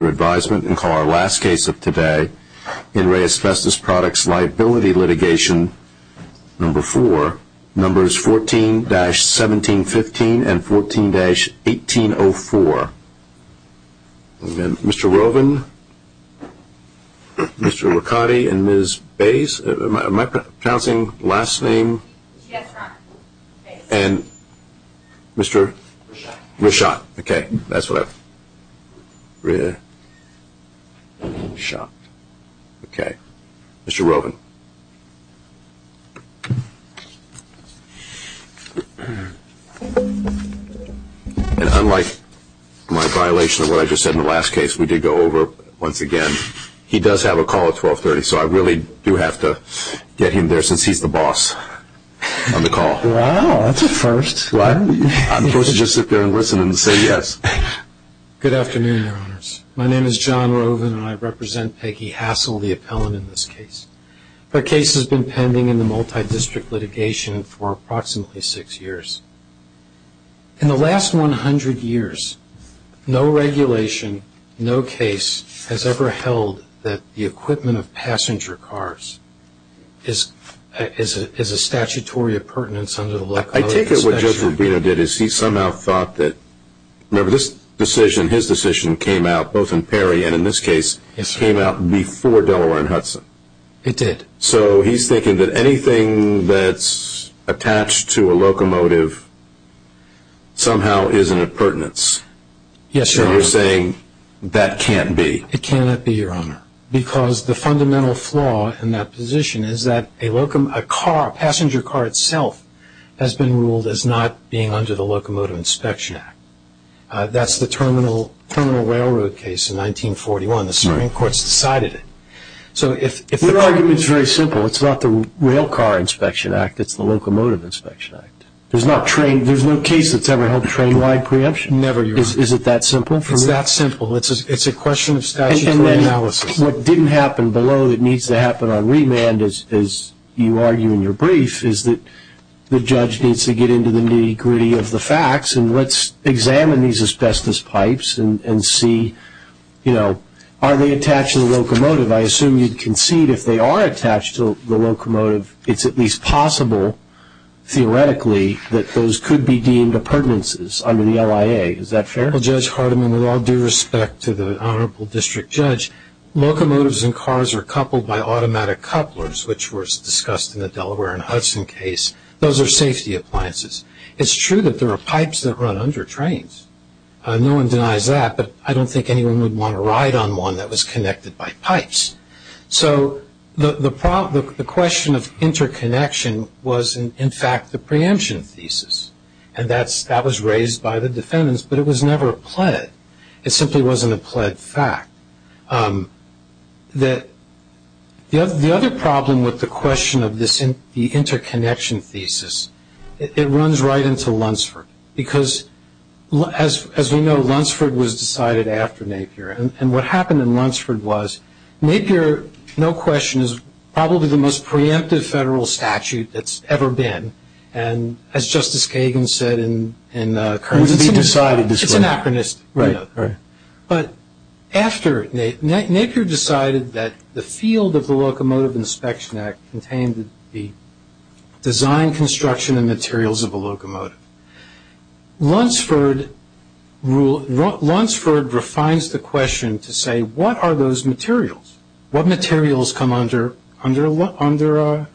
for advisement and call our last case of today in Re Asbestos Products Liability Litigation Number 4, Numbers 14-1715 and 14-1804. Mr. Roven, Mr. Licati, and Ms. Bays, am I pronouncing last name? Yes, Ron. And Mr. Rishot, okay, that's what I, Rishot, okay, Mr. Roven. And unlike my violation of what I just said in the last case, we did go over it once again, he does have a call at 1230, so I really do have to get him there since he's the boss on the call. Wow, that's a first. I'm supposed to just sit there and listen and say yes. Good afternoon, Your Honors. My name is John Roven and I represent Peggy Hassel, the appellant in this case. Her case has been pending in the multi-district litigation for approximately six years. In the last 100 years, no regulation, no case has ever held that the equipment of passenger cars is a statutory appurtenance under the Black Code. I take it what Joseph Rubino did is he somehow thought that, remember, this decision, his decision came out, both in Perry and in this case, came out before Delaware and Hudson. It did. So he's thinking that anything that's attached to a locomotive somehow is an appurtenance. Yes, Your Honor. So you're saying that can't be. It cannot be, Your Honor, because the fundamental flaw in that position is that a car, a passenger car itself, has been ruled as not being under the Locomotive Inspection Act. That's the Terminal Railroad case in 1941. The Supreme Court's decided it. Your argument is very simple. It's not the Rail Car Inspection Act. It's the Locomotive Inspection Act. There's no case that's ever held train-wide preemption. Never, Your Honor. Is it that simple? It's that simple. It's a question of statutory analysis. What didn't happen below that needs to happen on remand, as you argue in your brief, is that the judge needs to get into the nitty-gritty of the facts and let's examine these asbestos pipes and see, you know, are they attached to the locomotive? I assume you'd concede if they are attached to the locomotive, it's at least possible theoretically that those could be deemed a pertinences under the LIA. Is that fair? Well, Judge Hardiman, with all due respect to the Honorable District Judge, locomotives and cars are coupled by automatic couplers, which was discussed in the Delaware and Hudson case. Those are safety appliances. It's true that there are pipes that run under trains. No one denies that, but I don't think anyone would want to ride on one that was connected by pipes. So the question of interconnection was, in fact, the preemption thesis, and that was raised by the defendants, but it was never pled. It simply wasn't a pled fact. The other problem with the question of the interconnection thesis, it runs right into Lunsford, because, as we know, Lunsford was decided after Napier, and what happened in Lunsford was Napier, no question, is probably the most preemptive federal statute that's ever been, and as Justice Kagan said in the current case, it's anachronistic. But after Napier decided that the field of the Locomotive Inspection Act contained the design, construction, and materials of a locomotive, Lunsford refines the question to say, what are those materials? What materials come under Napier?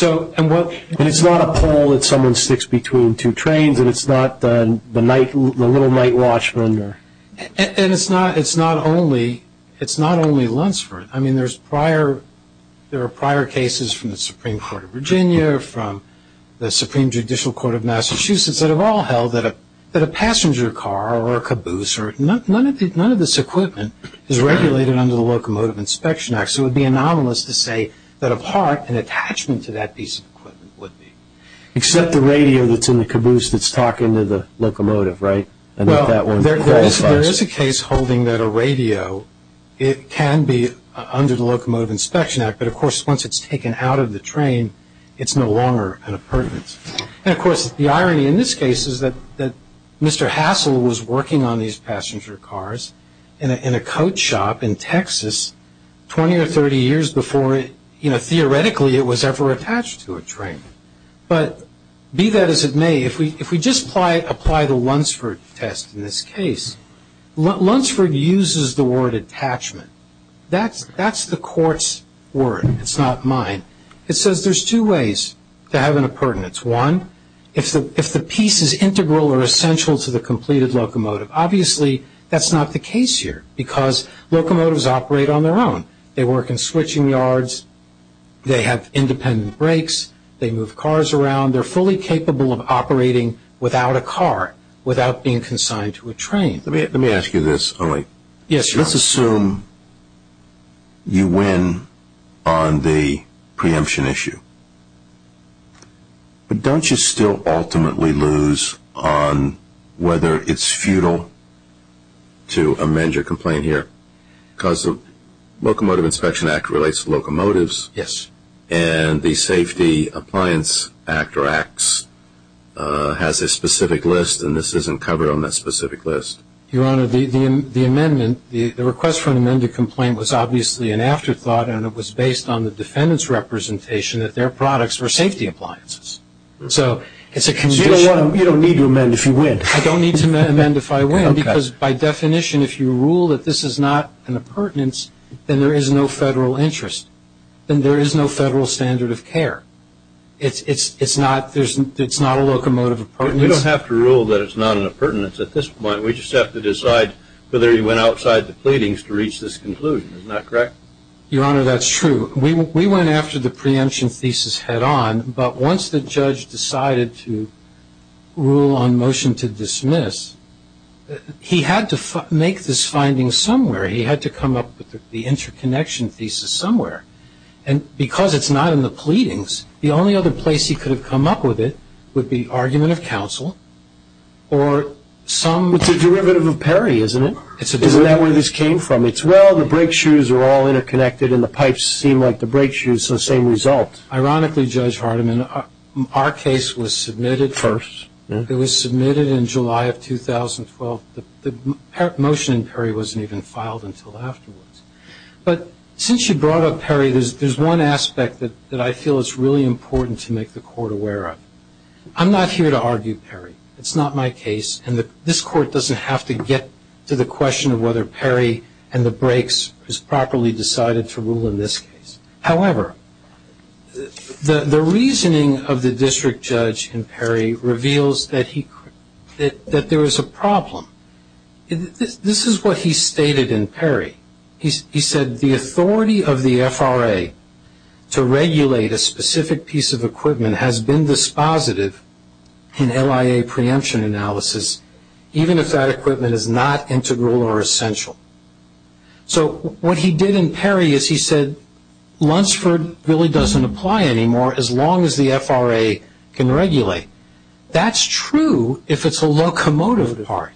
And it's not a pole that someone sticks between two trains, and it's not the little night watchman. And it's not only Lunsford. I mean, there are prior cases from the Supreme Court of Virginia, from the Supreme Judicial Court of Massachusetts, that have all held that a passenger car or a caboose, none of this equipment is regulated under the Locomotive Inspection Act, so it would be anomalous to say that, of heart, an attachment to that piece of equipment would be. Except the radio that's in the caboose that's talking to the locomotive, right? Well, there is a case holding that a radio, it can be under the Locomotive Inspection Act, but, of course, once it's taken out of the train, it's no longer an appurtenance. And, of course, the irony in this case is that Mr. Hassel was working on these passenger cars in a coat shop in Texas 20 or 30 years before, you know, theoretically it was ever attached to a train. But, be that as it may, if we just apply the Lunsford test in this case, Lunsford uses the word attachment. That's the court's word. It's not mine. It says there's two ways to have an appurtenance. One, if the piece is integral or essential to the completed locomotive. Obviously, that's not the case here because locomotives operate on their own. They work in switching yards. They have independent brakes. They move cars around. They're fully capable of operating without a car, without being consigned to a train. Let me ask you this. Let's assume you win on the preemption issue. But don't you still ultimately lose on whether it's futile to amend your complaint here because the Locomotive Inspection Act relates to locomotives. Yes. And the Safety Appliance Act or Acts has a specific list, and this isn't covered on that specific list. Your Honor, the amendment, the request for an amended complaint was obviously an afterthought, and it was based on the defendant's representation that their products were safety appliances. So it's a condition. So you don't need to amend if you win. I don't need to amend if I win because, by definition, if you rule that this is not an appurtenance, then there is no federal interest. Then there is no federal standard of care. It's not a locomotive appurtenance. You don't have to rule that it's not an appurtenance at this point. We just have to decide whether you went outside the pleadings to reach this conclusion. Isn't that correct? Your Honor, that's true. We went after the preemption thesis head-on, but once the judge decided to rule on motion to dismiss, he had to make this finding somewhere. He had to come up with the interconnection thesis somewhere. And because it's not in the pleadings, the only other place he could have come up with it would be argument of counsel or some other. It's a derivative of Perry, isn't it? It's a derivative. Isn't that where this came from? It's, well, the brake shoes are all interconnected, and the pipes seem like the brake shoes, so the same result. Ironically, Judge Hardiman, our case was submitted. First. It was submitted in July of 2012. The motion in Perry wasn't even filed until afterwards. But since you brought up Perry, there's one aspect that I feel is really important to make the Court aware of. I'm not here to argue Perry. It's not my case, and this Court doesn't have to get to the question of whether Perry and the brakes is properly decided to rule in this case. However, the reasoning of the district judge in Perry reveals that there is a problem. This is what he stated in Perry. He said, The authority of the FRA to regulate a specific piece of equipment has been dispositive in LIA preemption analysis, even if that equipment is not integral or essential. So what he did in Perry is he said, Lunsford really doesn't apply anymore as long as the FRA can regulate. That's true if it's a locomotive part.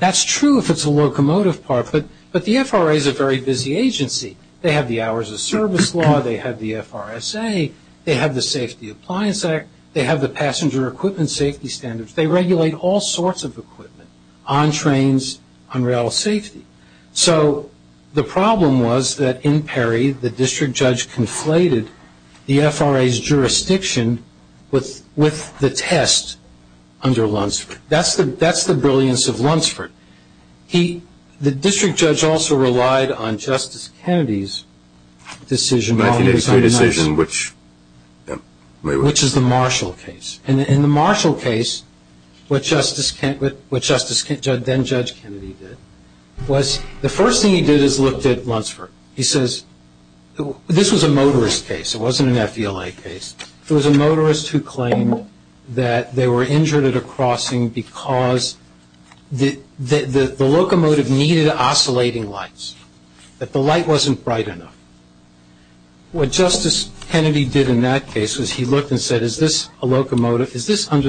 That's true if it's a locomotive part. But the FRA is a very busy agency. They have the Hours of Service Law. They have the FRSA. They have the Safety Appliance Act. They have the Passenger Equipment Safety Standards. They regulate all sorts of equipment, on trains, on rail safety. So the problem was that in Perry, the district judge conflated the FRA's jurisdiction with the test under Lunsford. That's the brilliance of Lunsford. The district judge also relied on Justice Kennedy's decision, which is the Marshall case. And in the Marshall case, what Justice then Judge Kennedy did, was the first thing he did is looked at Lunsford. He says, this was a motorist case. It wasn't an FDLA case. It was a motorist who claimed that they were injured at a crossing because the locomotive needed oscillating lights, that the light wasn't bright enough. What Justice Kennedy did in that case was he looked and said, is this under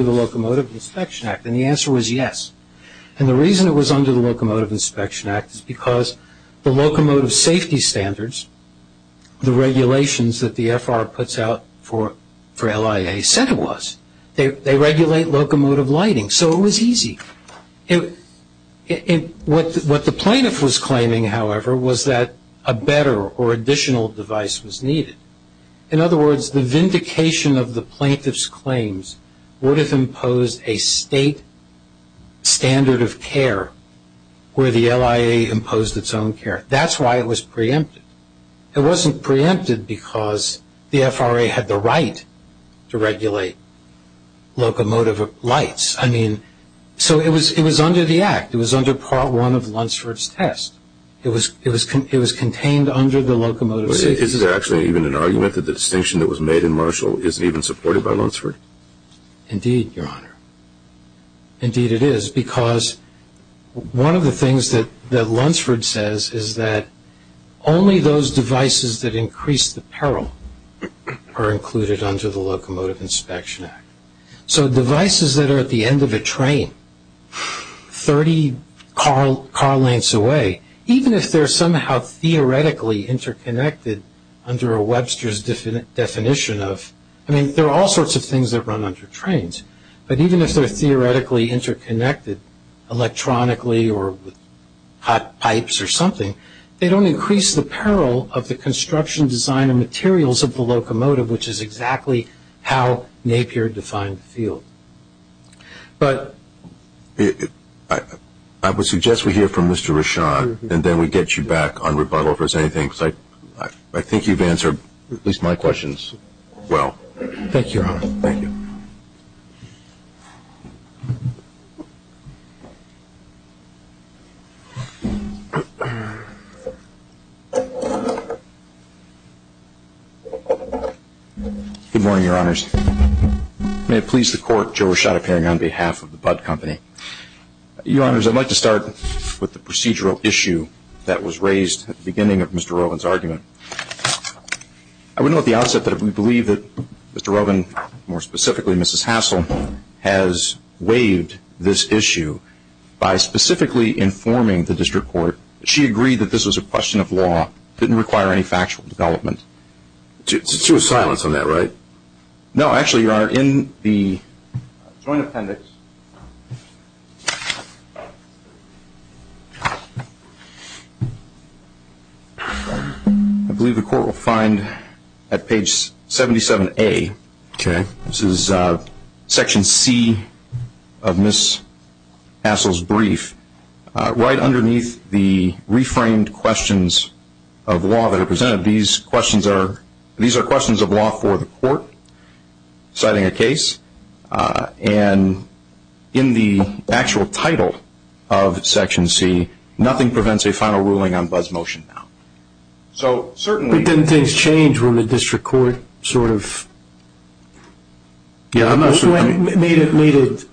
the Locomotive Inspection Act? And the answer was yes. And the reason it was under the Locomotive Inspection Act is because the locomotive safety standards, the regulations that the FR puts out for LIA said it was. They regulate locomotive lighting. So it was easy. What the plaintiff was claiming, however, was that a better or additional device was needed. In other words, the vindication of the plaintiff's claims would have imposed a state standard of care where the LIA imposed its own care. That's why it was preempted. It wasn't preempted because the FRA had the right to regulate locomotive lights. I mean, so it was under the Act. It was under Part 1 of Lunsford's test. It was contained under the Locomotive Safety Act. Is it actually even an argument that the distinction that was made in Marshall isn't even supported by Lunsford? Indeed, Your Honor. Indeed it is because one of the things that Lunsford says is that only those devices that increase the peril are included under the Locomotive Inspection Act. So devices that are at the end of a train, 30 car lengths away, even if they're somehow theoretically interconnected under a Webster's definition of – I mean, there are all sorts of things that run under trains, but even if they're theoretically interconnected electronically or hot pipes or something, they don't increase the peril of the construction, design, and materials of the locomotive, which is exactly how Napier defined the field. I would suggest we hear from Mr. Rashad and then we get you back on rebuttal if there's anything. I think you've answered at least my questions well. Thank you, Your Honor. Thank you. Good morning, Your Honors. May it please the Court, Joe Rashad appearing on behalf of the Budd Company. Your Honors, I'd like to start with the procedural issue that was raised at the beginning of Mr. Rovin's argument. I would note at the outset that we believe that Mr. Rovin, more specifically Mrs. Hassel, has waived this issue by specifically informing the district court that she agreed that this was a question of law, didn't require any factual development. It's true of silence on that, right? No, actually, Your Honor, in the Joint Appendix, I believe the Court will find at page 77A, this is Section C of Mrs. Hassel's brief, right underneath the reframed questions of law that are presented, these are questions of law for the Court citing a case. And in the actual title of Section C, nothing prevents a final ruling on Budd's motion now. But didn't things change when the district court sort of made it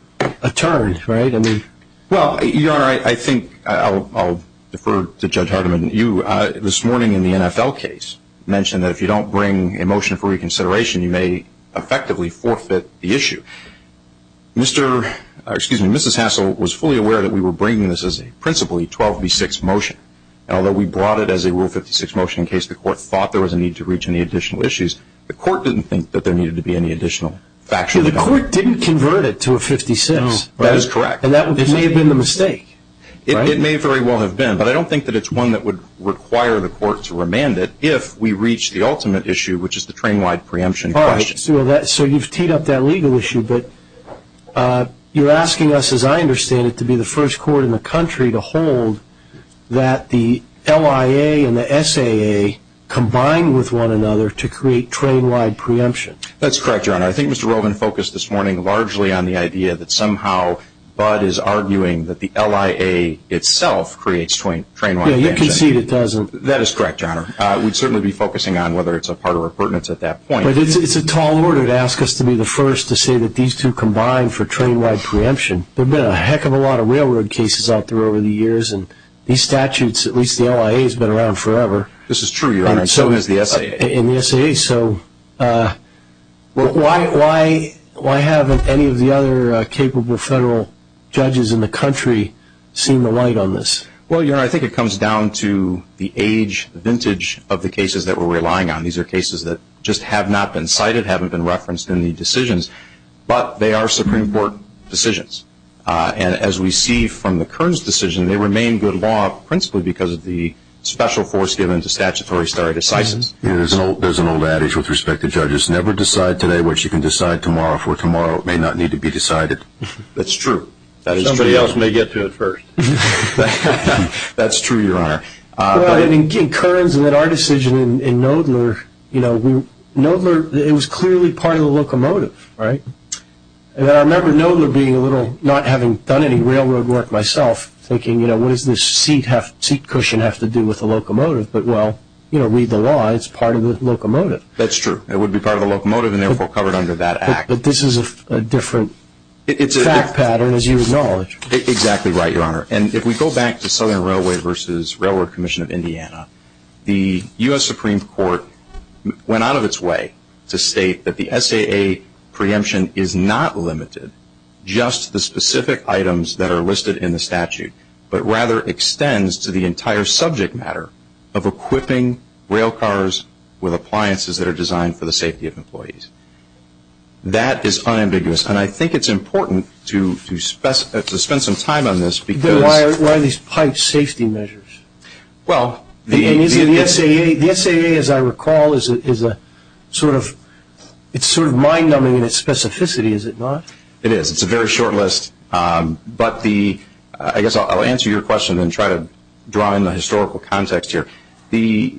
a turn, right? Well, Your Honor, I think I'll defer to Judge Hardiman. You, this morning in the NFL case, mentioned that if you don't bring a motion for reconsideration, you may effectively forfeit the issue. Mrs. Hassel was fully aware that we were bringing this as a principally 12B6 motion, and although we brought it as a Rule 56 motion in case the Court thought there was a need to reach any additional issues, the Court didn't think that there needed to be any additional factual development. The Court didn't convert it to a 56. No, that is correct. And that may have been the mistake, right? It may very well have been, but I don't think that it's one that would require the Court to remand it if we reach the ultimate issue, which is the train-wide preemption question. All right, so you've teed up that legal issue, but you're asking us, as I understand it, to be the first court in the country to hold that the LIA and the SAA combine with one another to create train-wide preemption. That's correct, Your Honor. I think Mr. Rowland focused this morning largely on the idea that somehow Bud is arguing that the LIA itself creates train-wide preemption. Yeah, you can see it doesn't. That is correct, Your Honor. We'd certainly be focusing on whether it's a part or a pertinent at that point. But it's a tall order to ask us to be the first to say that these two combine for train-wide preemption. There have been a heck of a lot of railroad cases out there over the years, and these statutes, at least the LIA, has been around forever. This is true, Your Honor, and so has the SAA. Okay, so why haven't any of the other capable federal judges in the country seen the light on this? Well, Your Honor, I think it comes down to the age, the vintage of the cases that we're relying on. These are cases that just have not been cited, haven't been referenced in the decisions, but they are Supreme Court decisions. And as we see from the Kearns decision, they remain good law, principally because of the special force given to statutory stare decisis. There's an old adage with respect to judges, never decide today what you can decide tomorrow, for tomorrow may not need to be decided. That's true. Somebody else may get to it first. That's true, Your Honor. In Kearns and in our decision in Knoedler, it was clearly part of the locomotive, right? And I remember Knoedler being a little, not having done any railroad work myself, thinking what does this seat cushion have to do with the locomotive? But, well, you know, read the law, it's part of the locomotive. That's true. It would be part of the locomotive and therefore covered under that act. But this is a different fact pattern, as you acknowledge. Exactly right, Your Honor. And if we go back to Southern Railway v. Railroad Commission of Indiana, the U.S. Supreme Court went out of its way to state that the SAA preemption is not limited just to the specific items that are listed in the statute, but rather extends to the entire subject matter of equipping railcars with appliances that are designed for the safety of employees. That is unambiguous, and I think it's important to spend some time on this. Why are these pipe safety measures? Well, the SAA, as I recall, is sort of mind-numbing in its specificity, is it not? It is. It's a very short list, but I guess I'll answer your question and try to draw in the historical context here. The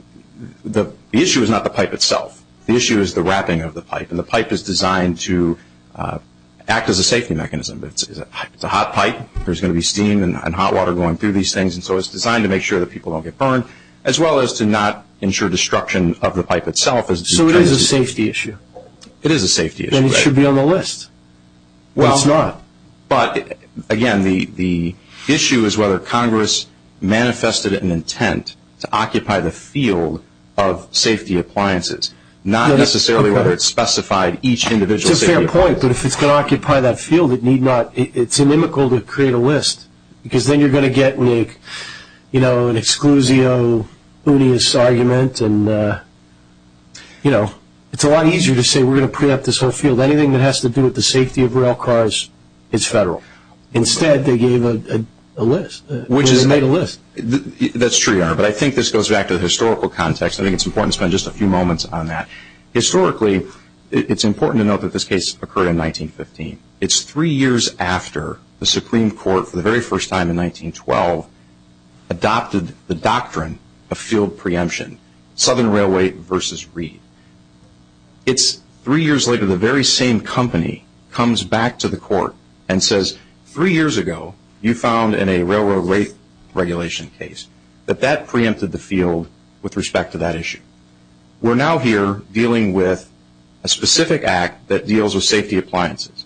issue is not the pipe itself. The issue is the wrapping of the pipe, and the pipe is designed to act as a safety mechanism. It's a hot pipe. There's going to be steam and hot water going through these things, and so it's designed to make sure that people don't get burned, as well as to not ensure destruction of the pipe itself. So it is a safety issue. It is a safety issue. And it should be on the list, but it's not. But, again, the issue is whether Congress manifested an intent to occupy the field of safety appliances, not necessarily whether it specified each individual safety appliance. It's a fair point, but if it's going to occupy that field, it need not. It's inimical to create a list, because then you're going to get an exclusio unis argument. It's a lot easier to say we're going to preempt this whole field. Anything that has to do with the safety of rail cars is federal. Instead, they gave a list. They made a list. That's true, Your Honor, but I think this goes back to the historical context. I think it's important to spend just a few moments on that. Historically, it's important to note that this case occurred in 1915. It's three years after the Supreme Court, for the very first time in 1912, adopted the doctrine of field preemption, Southern Railway versus Reed. It's three years later, the very same company comes back to the court and says, three years ago, you found in a railroad rate regulation case that that preempted the field with respect to that issue. We're now here dealing with a specific act that deals with safety appliances.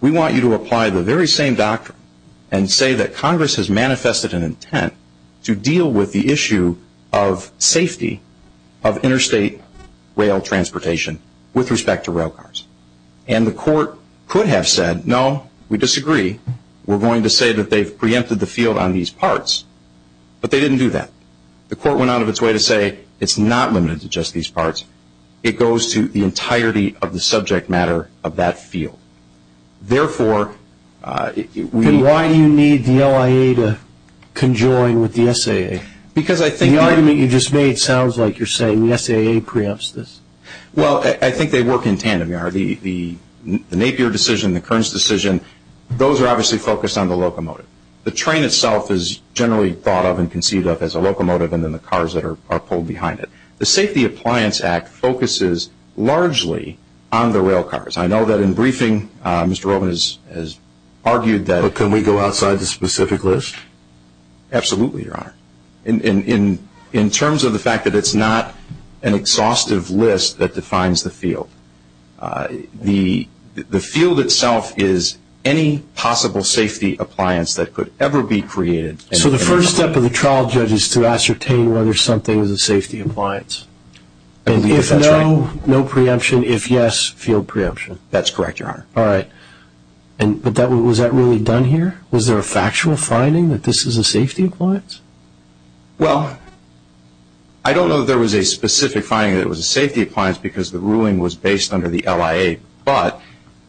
We want you to apply the very same doctrine and say that Congress has manifested an intent to deal with the issue of safety of interstate rail transportation with respect to rail cars. And the court could have said, no, we disagree. We're going to say that they've preempted the field on these parts, but they didn't do that. The court went out of its way to say it's not limited to just these parts. It goes to the entirety of the subject matter of that field. Therefore, we need- And why do you need the LIA to conjoin with the SAA? Because I think- The argument you just made sounds like you're saying the SAA preempts this. Well, I think they work in tandem. The Napier decision, the Kearns decision, those are obviously focused on the locomotive. The train itself is generally thought of and conceived of as a locomotive and then the cars that are pulled behind it. The Safety Appliance Act focuses largely on the rail cars. I know that in briefing Mr. Roman has argued that- But can we go outside the specific list? Absolutely, Your Honor. In terms of the fact that it's not an exhaustive list that defines the field. The field itself is any possible safety appliance that could ever be created- So the first step of the trial judge is to ascertain whether something is a safety appliance. If no, no preemption. If yes, field preemption. That's correct, Your Honor. All right. But was that really done here? Was there a factual finding that this is a safety appliance? Well, I don't know that there was a specific finding that it was a safety appliance because the ruling was based under the LIA, but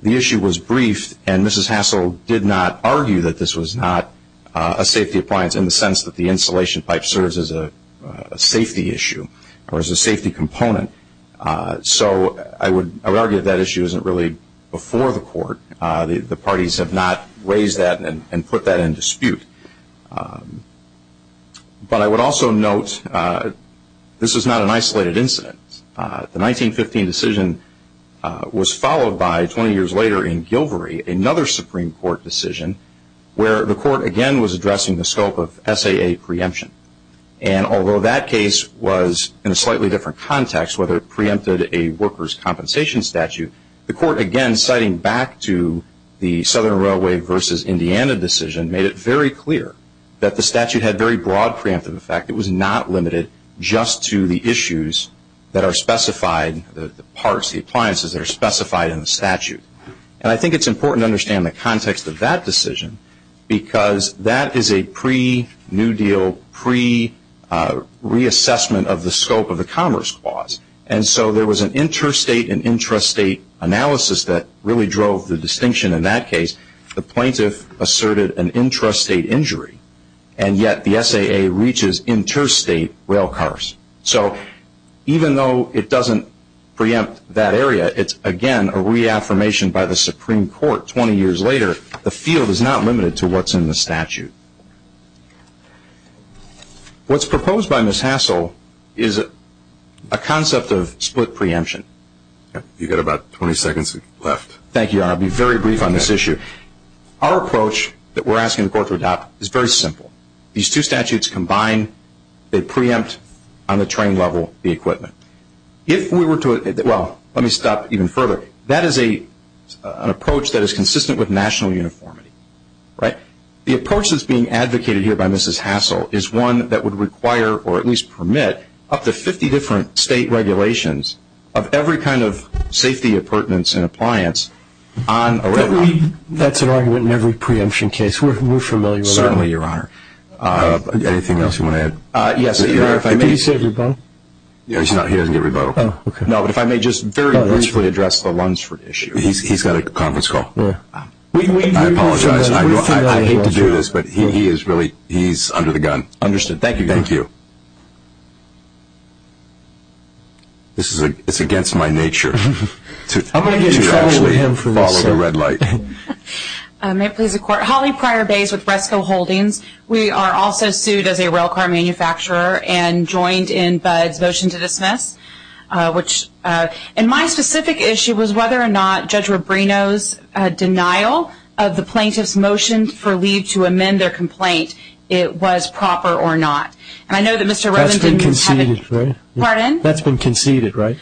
the issue was briefed and Mrs. Hassel did not argue that this was not a safety appliance in the sense that the insulation pipe serves as a safety issue or as a safety component. So I would argue that issue isn't really before the court. The parties have not raised that and put that in dispute. But I would also note this is not an isolated incident. The 1915 decision was followed by 20 years later in Gilvory, another Supreme Court decision, where the court again was addressing the scope of SAA preemption. And although that case was in a slightly different context, whether it preempted a worker's compensation statute, the court again citing back to the Southern Railway versus Indiana decision made it very clear that the statute had very broad preemptive effect. It was not limited just to the issues that are specified, the parts, the appliances that are specified in the statute. And I think it's important to understand the context of that decision because that is a pre-New Deal, pre-reassessment of the scope of the Commerce Clause. And so there was an interstate and intrastate analysis that really drove the distinction in that case. The plaintiff asserted an intrastate injury, and yet the SAA reaches interstate rail cars. So even though it doesn't preempt that area, it's again a reaffirmation by the Supreme Court 20 years later, the field is not limited to what's in the statute. What's proposed by Ms. Hassel is a concept of split preemption. You've got about 20 seconds left. Thank you, Your Honor. I'll be very brief on this issue. Our approach that we're asking the court to adopt is very simple. These two statutes combine. They preempt on the train level the equipment. If we were to – well, let me stop even further. That is an approach that is consistent with national uniformity, right? The approach that's being advocated here by Mrs. Hassel is one that would require or at least permit up to 50 different state regulations of every kind of safety appurtenance and appliance on a railroad. That's an argument in every preemption case. We're familiar with that. Certainly, Your Honor. Anything else you want to add? Yes. Did he say rebuttal? He hasn't given rebuttal. No, but if I may just very briefly address the Lunsford issue. He's got a conference call. I apologize. I hate to do this, but he is really – he's under the gun. Understood. Thank you, Your Honor. Thank you. It's against my nature to actually follow the red light. May it please the Court. Holly Pryor-Bays with Resco Holdings. We are also sued as a rail car manufacturer and joined in Bud's motion to dismiss. My specific issue was whether or not Judge Rubino's denial of the plaintiff's motion for leave to amend their complaint, it was proper or not. And I know that Mr. Rubino – That's been conceded, right? Pardon? That's been conceded, right?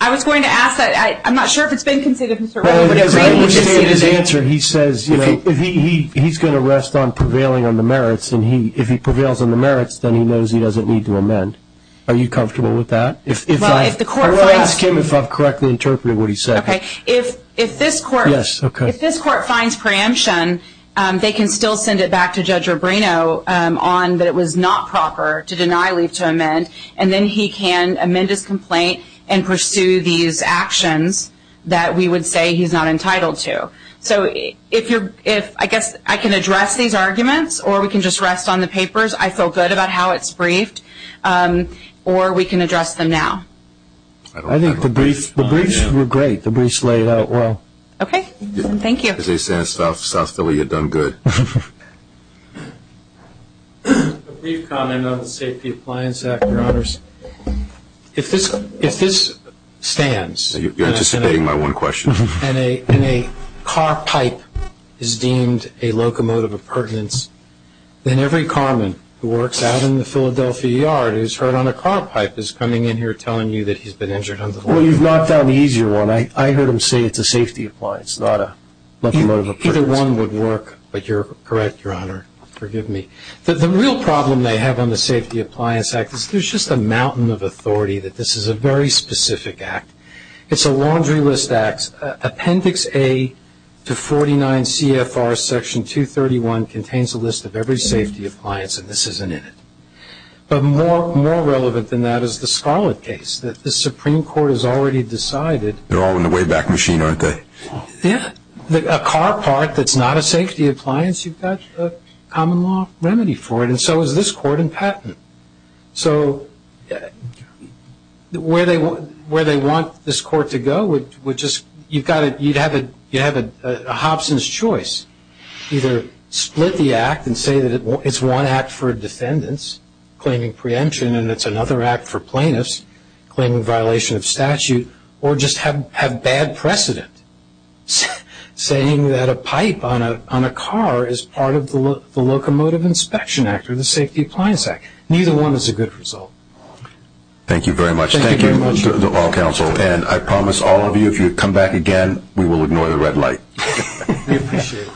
I was going to ask that. I'm not sure if it's been conceded, Mr. Rubino. Well, in his answer, he says he's going to rest on prevailing on the merits, and if he prevails on the merits, then he knows he doesn't need to amend. Are you comfortable with that? Well, if the Court finds – I want to ask him if I've correctly interpreted what he said. Okay. If this Court – Yes, okay. If this Court finds preemption, they can still send it back to Judge Rubino on that it was not proper to deny leave to amend, and then he can amend his complaint and pursue these actions that we would say he's not entitled to. So if you're – I guess I can address these arguments, or we can just rest on the papers. I feel good about how it's briefed, or we can address them now. I think the briefs were great. The briefs laid out well. Okay. Thank you. As they say in South Philly, you've done good. A brief comment on the Safety Appliance Act, Your Honors. If this stands – You're anticipating my one question. – and a car pipe is deemed a locomotive of pertinence, then every carman who works out in the Philadelphia yard who's hurt on a car pipe is coming in here telling you that he's been injured. Well, you've knocked down the easier one. I heard him say it's a safety appliance, not a locomotive of pertinence. Either one would work, but you're correct, Your Honor. Forgive me. The real problem they have on the Safety Appliance Act is there's just a mountain of authority that this is a very specific act. It's a laundry list act. Appendix A to 49 CFR Section 231 contains a list of every safety appliance, and this isn't in it. But more relevant than that is the Scarlett case that the Supreme Court has already decided. They're all in the Wayback Machine, aren't they? Yeah. A car part that's not a safety appliance, you've got a common law remedy for it, and so is this court and patent. So where they want this court to go would just – you'd have a Hobson's choice. Either split the act and say that it's one act for defendants claiming preemption and it's another act for plaintiffs claiming violation of statute, or just have bad precedent saying that a pipe on a car is part of the Locomotive Inspection Act or the Safety Appliance Act. Neither one is a good result. Thank you very much. Thank you very much. Thank you to all counsel. And I promise all of you, if you come back again, we will ignore the red light. We appreciate it. Thank you.